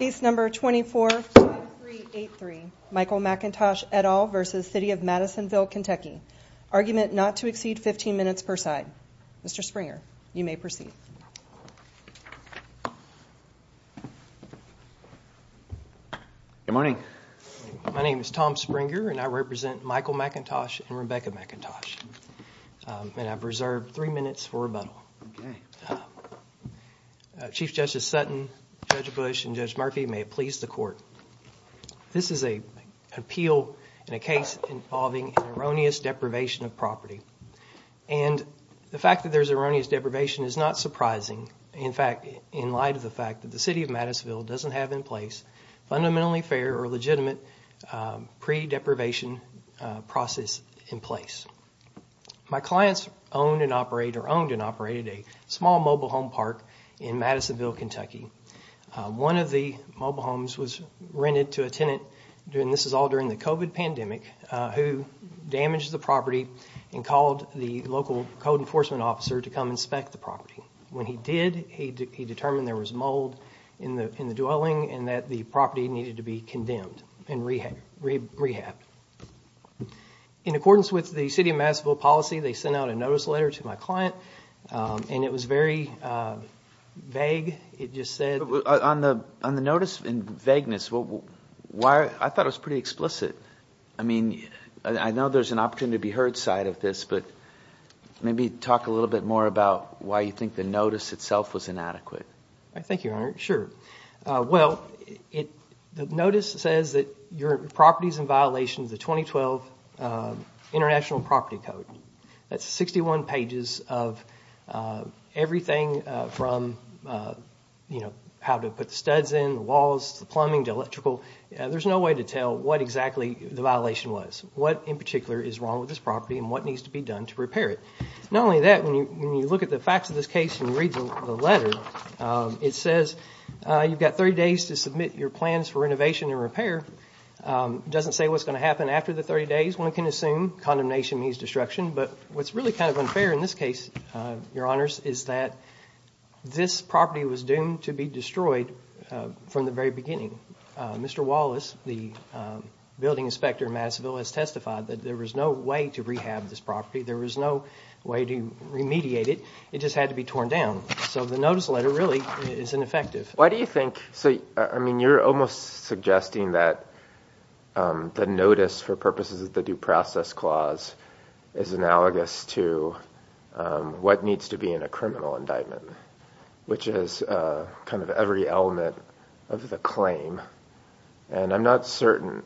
24-5383 Michael McIntosh v. City of Madisonville KY Argument not to exceed 15 minutes per side Mr. Springer, you may proceed Good morning My name is Tom Springer and I represent Michael McIntosh and Rebecca McIntosh And I've reserved 3 minutes for rebuttal Chief Justice Sutton, Judge Bush, and Judge Murphy, may it please the court This is an appeal in a case involving erroneous deprivation of property And the fact that there's erroneous deprivation is not surprising In fact, in light of the fact that the City of Madisonville doesn't have in place Fundamentally fair or legitimate pre-deprivation process in place My clients owned and operated a small mobile home park in Madisonville KY One of the mobile homes was rented to a tenant This is all during the COVID pandemic Who damaged the property and called the local code enforcement officer to come inspect the property When he did, he determined there was mold in the dwelling And that the property needed to be condemned and rehabbed In accordance with the City of Madisonville policy, they sent out a notice letter to my client And it was very vague, it just said On the notice and vagueness, I thought it was pretty explicit I mean, I know there's an opportunity to be heard side of this But maybe talk a little bit more about why you think the notice itself was inadequate Thank you, Your Honor, sure Well, the notice says that your property is in violation of the 2012 International Property Code That's 61 pages of everything from how to put the studs in, the walls, the plumbing, the electrical There's no way to tell what exactly the violation was What in particular is wrong with this property and what needs to be done to repair it Not only that, when you look at the facts of this case and read the letter It says you've got 30 days to submit your plans for renovation and repair It doesn't say what's going to happen after the 30 days One can assume condemnation means destruction But what's really kind of unfair in this case, Your Honors Is that this property was doomed to be destroyed from the very beginning Mr. Wallace, the building inspector in Madisonville, has testified That there was no way to rehab this property There was no way to remediate it, it just had to be torn down So the notice letter really is ineffective Why do you think, I mean you're almost suggesting that The notice for purposes of the due process clause is analogous to What needs to be in a criminal indictment Which is kind of every element of the claim And I'm not certain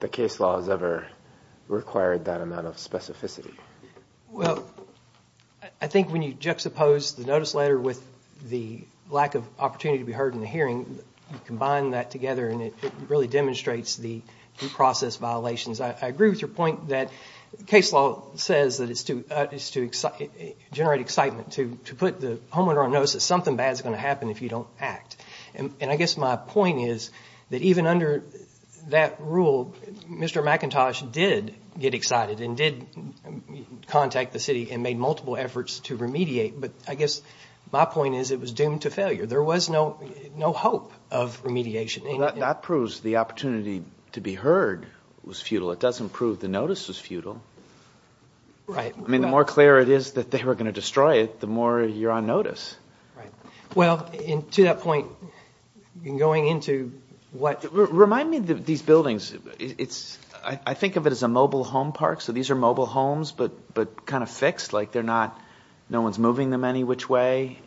the case law has ever required that amount of specificity Well, I think when you juxtapose the notice letter With the lack of opportunity to be heard in the hearing You combine that together and it really demonstrates the due process violations I agree with your point that case law says that it's to generate excitement To put the homeowner on notice that something bad is going to happen if you don't act And I guess my point is that even under that rule Mr. McIntosh did get excited and did contact the city And made multiple efforts to remediate But I guess my point is it was doomed to failure There was no hope of remediation That proves the opportunity to be heard was futile It doesn't prove the notice was futile I mean the more clear it is that they were going to destroy it The more you're on notice Well, to that point, going into what Remind me of these buildings I think of it as a mobile home park So these are mobile homes but kind of fixed Like no one's moving them any which way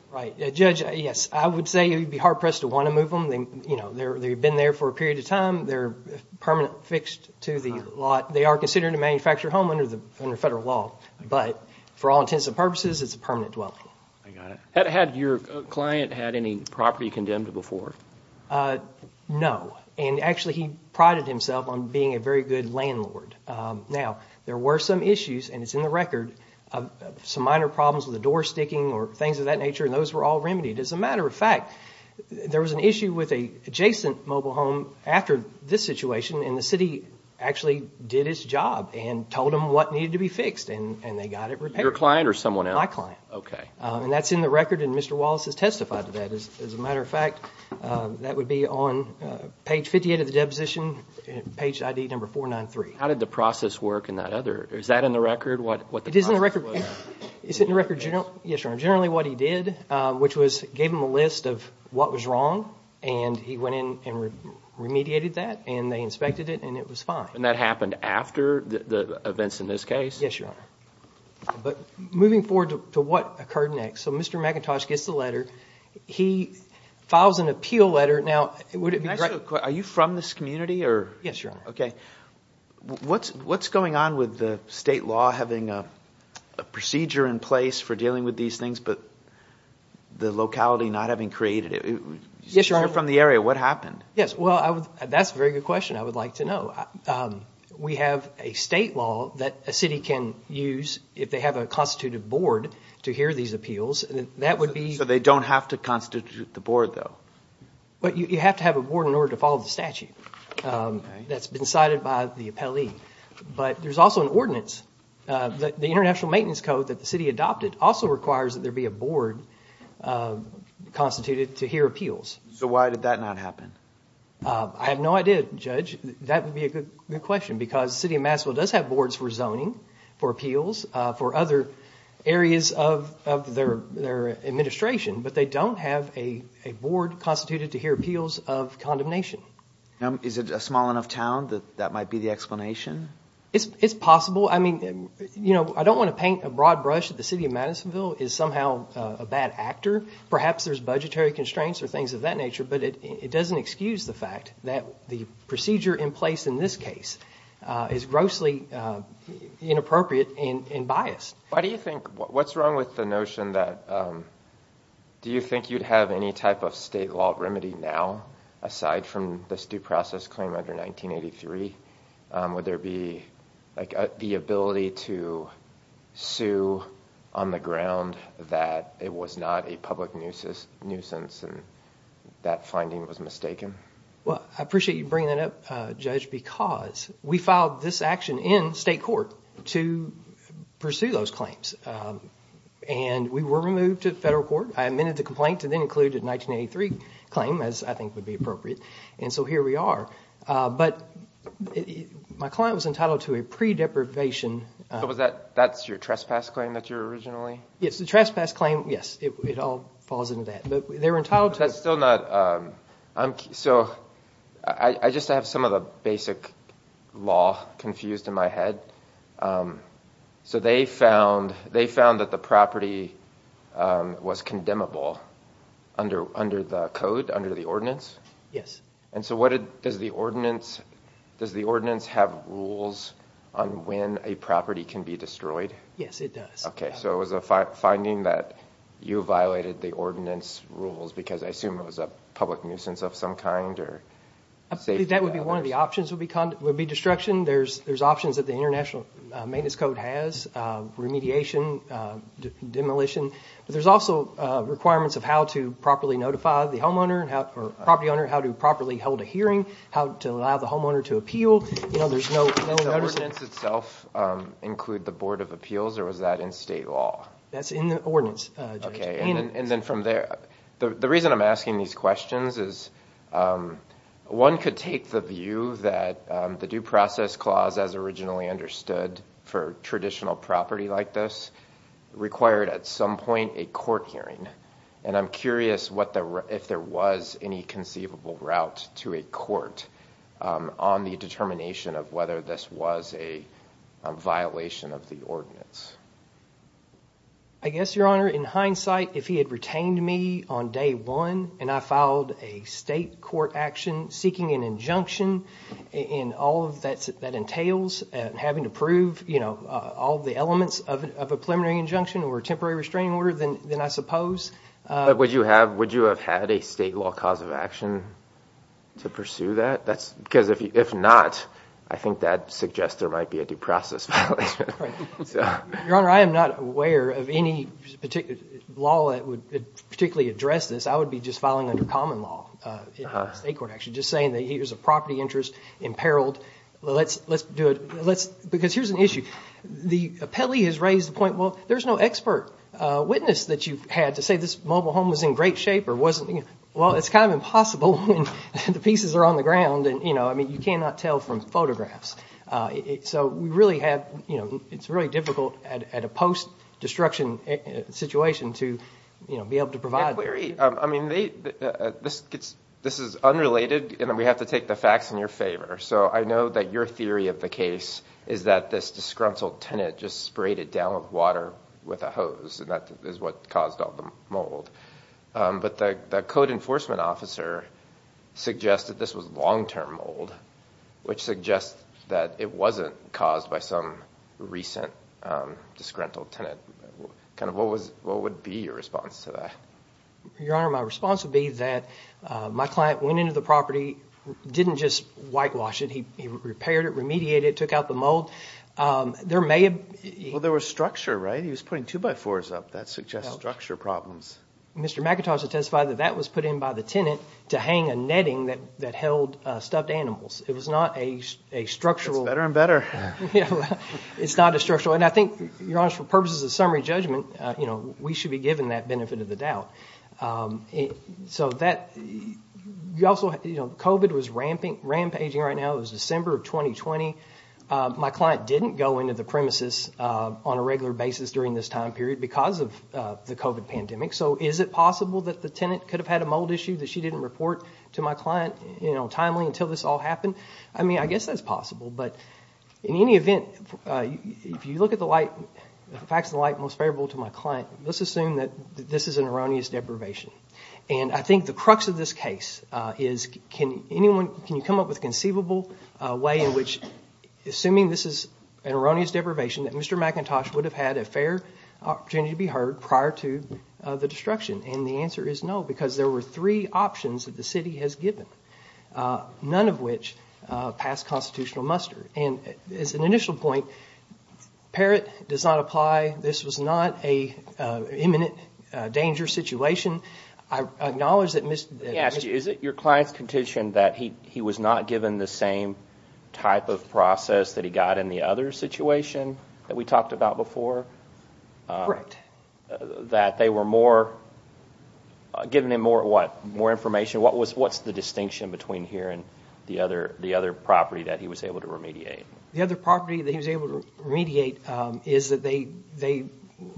Judge, yes, I would say you'd be hard pressed to want to move them They've been there for a period of time They're permanently fixed to the lot They are considered a manufactured home under federal law But for all intents and purposes it's a permanent dwelling Had your client had any property condemned before? No, and actually he prided himself on being a very good landlord Now, there were some issues and it's in the record Some minor problems with the door sticking or things of that nature And those were all remedied As a matter of fact, there was an issue with an adjacent mobile home After this situation and the city actually did its job And told them what needed to be fixed And they got it repaired Your client or someone else? My client And that's in the record and Mr. Wallace has testified to that As a matter of fact, that would be on page 58 of the deposition Page ID number 493 How did the process work in that other? Is that in the record what the process was? It is in the record Is it in the record? Yes, Your Honor Generally what he did, which was gave him a list of what was wrong And he went in and remediated that And they inspected it and it was fine And that happened after the events in this case? Yes, Your Honor But moving forward to what occurred next So Mr. McIntosh gets the letter He files an appeal letter Now, would it be correct? Are you from this community? Yes, Your Honor Okay What's going on with the state law having a procedure in place For dealing with these things but the locality not having created it? Yes, Your Honor You're from the area, what happened? Yes, well, that's a very good question I would like to know We have a state law that a city can use If they have a constitutive board to hear these appeals That would be So they don't have to constitute the board though? But you have to have a board in order to follow the statute That's been decided by the appellee But there's also an ordinance The International Maintenance Code that the city adopted Also requires that there be a board Constituted to hear appeals So why did that not happen? I have no idea, Judge That would be a good question Because the city of Massachusetts does have boards for zoning For appeals For other areas of their administration But they don't have a board constituted to hear appeals of condemnation Is it a small enough town that that might be the explanation? It's possible I don't want to paint a broad brush That the city of Madisonville is somehow a bad actor Perhaps there's budgetary constraints or things of that nature But it doesn't excuse the fact that the procedure in place in this case Is grossly inappropriate and biased What's wrong with the notion that Do you think you'd have any type of state law remedy now? Aside from this due process claim under 1983 Would there be the ability to sue on the ground That it was not a public nuisance And that finding was mistaken? I appreciate you bringing that up, Judge Because we filed this action in state court To pursue those claims And we were removed to federal court I amended the complaint to then include a 1983 claim As I think would be appropriate And so here we are But my client was entitled to a pre-deprivation So that's your trespass claim that you're originally Yes, the trespass claim, yes It all falls into that But they were entitled to That's still not So I just have some of the basic law confused in my head So they found that the property was condemnable Under the code, under the ordinance? Yes And so does the ordinance have rules On when a property can be destroyed? Yes, it does Okay, so it was a finding that you violated the ordinance rules Because I assume it was a public nuisance of some kind I think that would be one of the options Would be destruction There's options that the International Maintenance Code has Remediation, demolition But there's also requirements Of how to properly notify the homeowner Or property owner How to properly hold a hearing How to allow the homeowner to appeal Does the ordinance itself include the Board of Appeals Or was that in state law? That's in the ordinance, Judge The reason I'm asking these questions is One could take the view that The Due Process Clause as originally understood For traditional property like this Required at some point a court hearing And I'm curious if there was any conceivable route to a court On the determination of whether this was a violation of the ordinance I guess, Your Honor, in hindsight If he had retained me on day one And I filed a state court action Seeking an injunction And all that entails Having to prove all the elements of a preliminary injunction Or a temporary restraining order Then I suppose But would you have had a state law cause of action To pursue that? Because if not I think that suggests there might be a due process violation Your Honor, I am not aware of any particular law That would particularly address this I would be just filing under common law State court action Just saying that here's a property interest imperiled Let's do it Because here's an issue The appellee has raised the point Well, there's no expert witness that you've had To say this mobile home was in great shape Or wasn't Well, it's kind of impossible When the pieces are on the ground I mean, you cannot tell from photographs So it's really difficult At a post-destruction situation To be able to provide I mean, this is unrelated And we have to take the facts in your favor So I know that your theory of the case Is that this disgruntled tenant Just sprayed it down with water with a hose And that is what caused all the mold But the code enforcement officer Suggested this was long-term mold Which suggests that it wasn't caused By some recent disgruntled tenant What would be your response to that? Your Honor, my response would be that My client went into the property Didn't just whitewash it He repaired it, remediated it, took out the mold There may have... Well, there was structure, right? He was putting 2x4s up That suggests structure problems Mr. McIntosh has testified that That was put in by the tenant To hang a netting that held stuffed animals It was not a structural... It's better and better It's not a structural... And I think, Your Honor For purposes of summary judgment We should be given that benefit of the doubt So that... You also... COVID was rampaging right now It was December of 2020 My client didn't go into the premises On a regular basis during this time period Because of the COVID pandemic So is it possible that the tenant Could have had a mold issue That she didn't report to my client Timely, until this all happened I mean, I guess that's possible But in any event If you look at the light... The facts of the light Most favorable to my client Let's assume that This is an erroneous deprivation And I think the crux of this case Is... Can anyone... Can you come up with a conceivable way In which... Assuming this is an erroneous deprivation That Mr. McIntosh would have had A fair opportunity to be heard Prior to the destruction And the answer is no Because there were three options That the city has given None of which Passed constitutional muster And as an initial point Parrot does not apply This was not an imminent Dangerous situation I acknowledge that... Is it your client's contention That he was not given The same type of process That he got in the other situation That we talked about before? Correct That they were more... Giving him more... More information What was... What's the distinction Between here and the other... The other property That he was able to remediate? The other property That he was able to remediate Is that they... They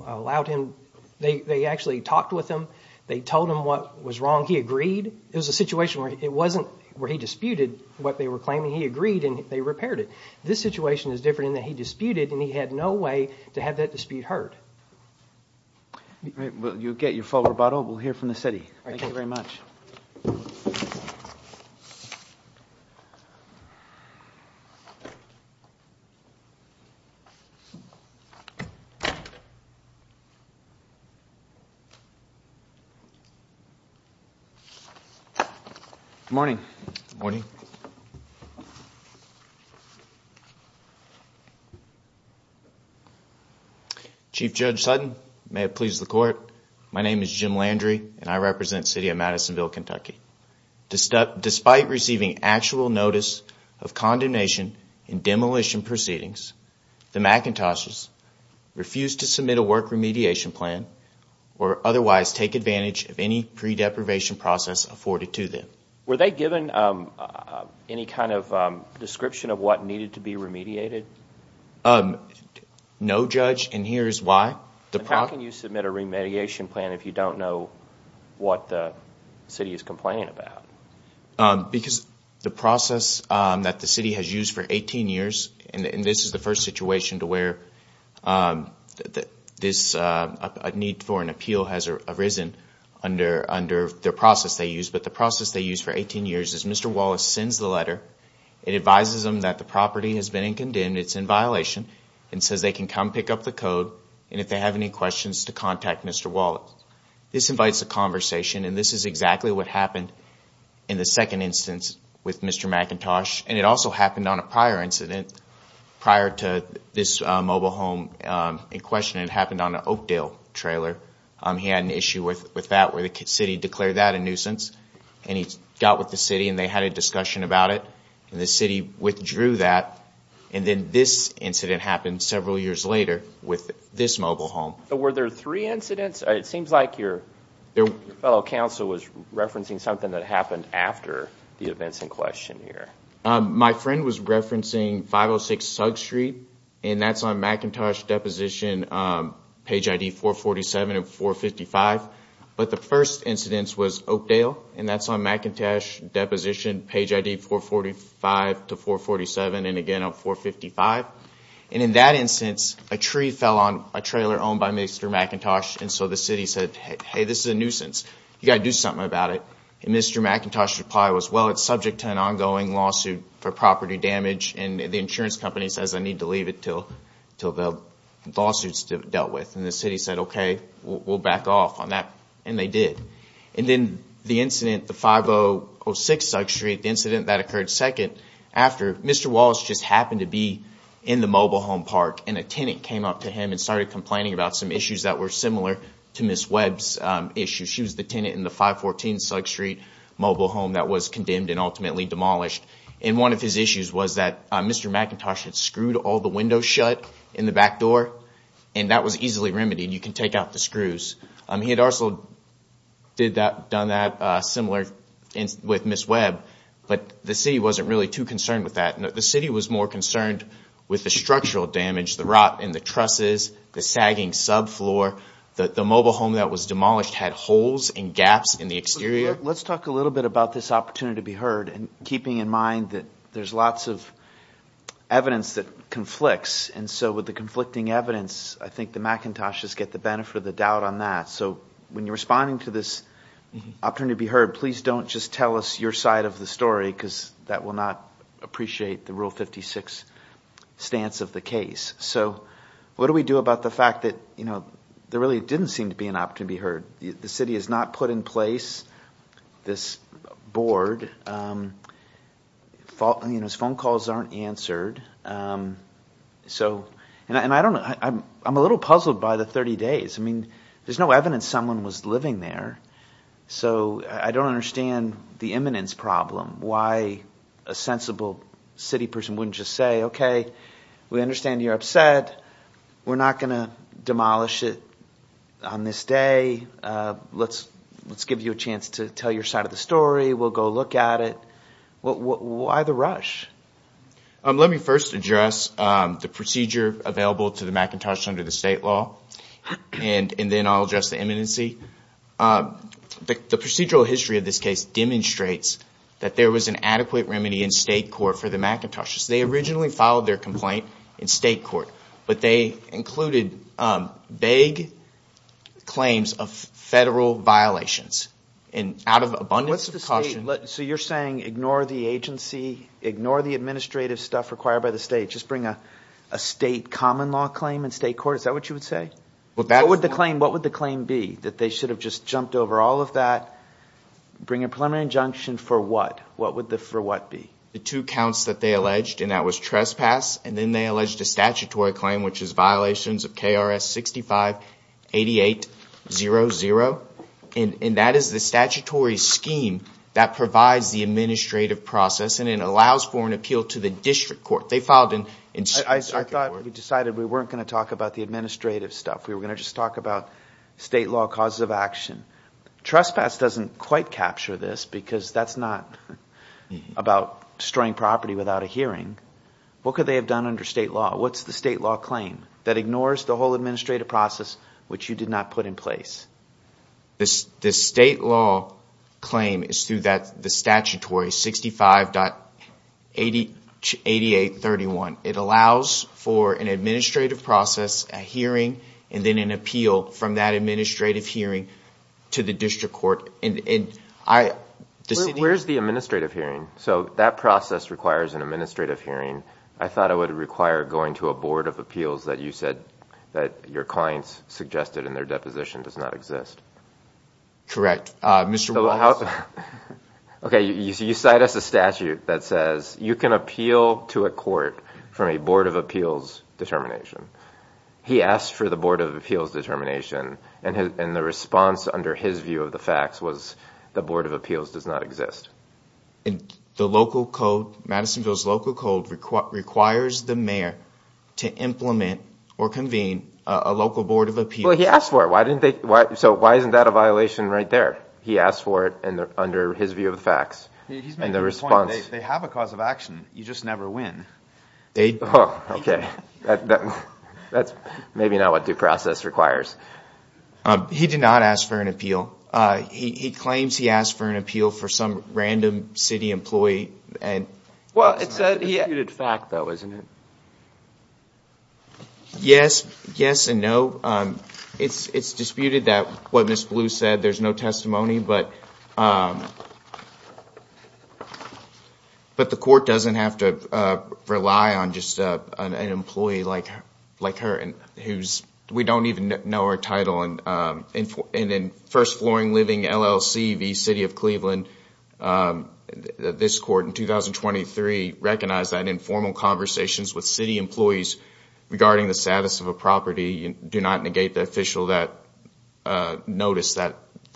allowed him... They actually talked with him They told him what was wrong He agreed It was a situation where It wasn't... Where he disputed What they were claiming He agreed and they repaired it This situation is different In that he disputed And he had no way To have that dispute heard All right You'll get your full rebuttal We'll hear from the city Thank you very much Good morning Good morning Chief Judge Sutton May it please the court My name is Jim Landry And I represent City of Madisonville, Kentucky Despite receiving Actual notice Of condemnation In demolition proceedings The McIntoshes Refuse to submit A work remediation plan Or otherwise Take advantage Of any pre-deprivation Process afforded to them Were they given Any kind of Description of what Needed to be remediated? No, Judge And here is why How can you submit A remediation plan If you don't know What the city Is complaining about? Because The process That the city Has used for 18 years And this is the first Situation to where This Need for an appeal Has arisen Under the process They used But the process They used for 18 years Is Mr. Wallace Sends the letter And advises them That the property Has been in condemned It's in violation And says they can Come pick up the code And if they have any questions To contact Mr. Wallace This invites a conversation And this is exactly What happened In the second instance With Mr. McIntosh And it also happened On a prior incident Prior to this Mobile home In question It happened on An Oakdale trailer He had an issue With that Where the city Declared that a nuisance And he got with the city And they had a discussion About it And the city Withdrew that And then this Incident happened Several years later With this mobile home Are the three incidents It seems like Your fellow Counsel Was referencing Something that happened After the events In question here My friend Was referencing 506 Sugg Street And that's on McIntosh deposition Page ID 447 And 455 But the first Incidence was Oakdale And that's on McIntosh deposition Page ID 445 To 447 And again on 455 And in that instance A tree fell on A trailer Owned by Mr. McIntosh And so the city Said hey This is a nuisance You've got to do Something about it And Mr. McIntosh Reply was well It's subject to an Ongoing lawsuit For property damage And the insurance Company says I need To leave it Till the Lawsuits Dealt with And the city Said okay We'll back off On that And they did And then the Incident The 506 Sugg Street Incident that Occurred second After Mr. Wallace just Happened to be In the mobile Home park And a tenant Came up to him And started Complaining about Some issues That were similar To Ms. Webb's issues She was the Tenant in the 514 Sugg Street mobile Home that was Condemned and Ultimately demolished And one of his Issues was that Mr. McIntosh had Screwed all the Windows shut In the back Door and that Was easily Too concerned With that The city was More concerned With the Structural damage The rot in The trusses The sagging Subfloor The mobile Home that was Demolished had Holes and gaps In the exterior Let's talk a little Bit about this Opportunity to be Heard and keeping In mind that There's lots of Evidence that Conflicts and So with the Conflicting evidence I think the McIntoshes get the Benefit of the Doubt on that So when you're Responding to this Opportunity to be Heard please don't Just tell us your Side of the story Because that will Not appreciate the Rule 56 stance of The case So what do we Do about the fact That you know There really didn't Seem to be an Opportunity to be Heard the city Has not put in Place this Board His phone calls Aren't answered So and I Don't know I'm a little Puzzled by the 30 days I mean there's No evidence Someone was Living there So I don't Understand the Eminence problem Why A sensible City person Wouldn't just Say okay We understand You're upset We're not Going to Demolish it On this day Let's Give you a Chance to Tell your Side of the Story We'll go Look at it Why the Rush Let me first Address the Eminency The procedural History of this Case demonstrates That there was An adequate Remedy in State court For the Macintoshes They originally Filed their Complaint in State court But they Included vague Claims of Federal violations And out of Abundance of Caution So you're Saying ignore The agency Ignore the Administrative Stuff required By the state Just bring a State common Law claim in State court Is that what you Would say What would the Claim be That they Should have Just jumped Over all Of that Bring a Preliminary Injunction for What The two Counts That they Alleged And that Was trespass And then They Alleged A statutory Claim Which is Violations Of KRS 6588 00 And that Is the Statutory Scheme That provides The administrative Process and Allows for An appeal To the District Court I thought We decided We weren't Going to Talk about The Administrative Stuff We were Going to Just talk About State Law What's the State Law Claim That ignores The whole Administrative Process Which you Did not Put in Place The State Law Claim Is through The Statutory 65. 8831 It allows For an Process A hearing And then Would Require Going To A Of Appeals That You Said That Your Clients Suggested In Their Deposition Does not Exist Correct Okay You Cite Us A Statute That Requires Mayor To Implement Or Convene A Local Board Of Appeals He Asked For It Under His View Of He Not Ask For An Appeal He Claims He Asked For An Appeal For Some Random City Employee It Is Disputed That There Is No Testimony But The Court Does Not Have To Rely On An Employee Like Her We Don't Even Know Her In The City Of Cleveland This Court In 2023 Recognized Informal Conversations With City Employees Regarding The Status Of An Cleveland With Of An Employee In The City Of Cleveland This Court Recognized Informal Conversations City Employees Regarding An Employee In The City Of Cleveland This Court Recognized Informal Conversations With Employees Regarding The Status Of An Employee The City Of Cleveland This Recognized Informal With An Employee In The City Of Cleveland This Recognized Informal Conversations With An Employee In The City With An Employee In The City Of Cleveland This Court Recognized Informal Conversations With Employee In The City Of Cleveland This Court With An Employee In The City Of Cleveland This Court Recognized Informal Conversations With In The City Of This Court Informal Employee In The City Of Cleveland This Court Recognized Conversations With An Employee In The City Of Cleveland This Recognized Informal The City Of Cleveland This Court Recognized Conversations With In The City Of Cleveland This Court Recognized Informal Conversations An In Of Court Informal With An Employee In City Of Cleveland Recognized Informal Conversations With An Employee Court Employee In City Of Cleveland This Court Recognized Conversations With An Employee In The City Of Cleveland This Court Recognized Conversations With An Employee In The City Of Cleveland Court Conversations The Of Court Recognized With In The City Of Cleveland This Court Recognized With An Employee In The City An Employee In The City Of Cleveland This Court With An Employee In The City In City Of Court Recognized Conversations With An Employee In The City Of Cleveland Court An Employee In The City Of Cleveland This Court Recognized Conversations With An Employee City Court Recognized Employee Of Cleveland This Court Recognized With An Employee In The City Of Cleveland This Court Conversations With An Cleveland Recognized An Employee This Court Recognized In The City Court Recognized Conversations With Employee Cleveland This Court Recognized Court Recognized An Employee In City Of This Recognized An Employee City Of Cleveland This Court Recognized An Employee In The City Of Cleveland This Court Recognized An This Court Recognized An Employee Of Cleveland In The City Of Cleveland This Court Recognized An Employee In The City Of Cleveland Court Of Cleveland Court Recognized Employee In The City Of Cleveland This Court Recognized Employee Working Destroyer This Court Employee Of Cleveland Court Recognized Employee Cleveland This Recognized Employee you for your arguments and for your briefs. We appreciate it. Thank you. The case will be submitted.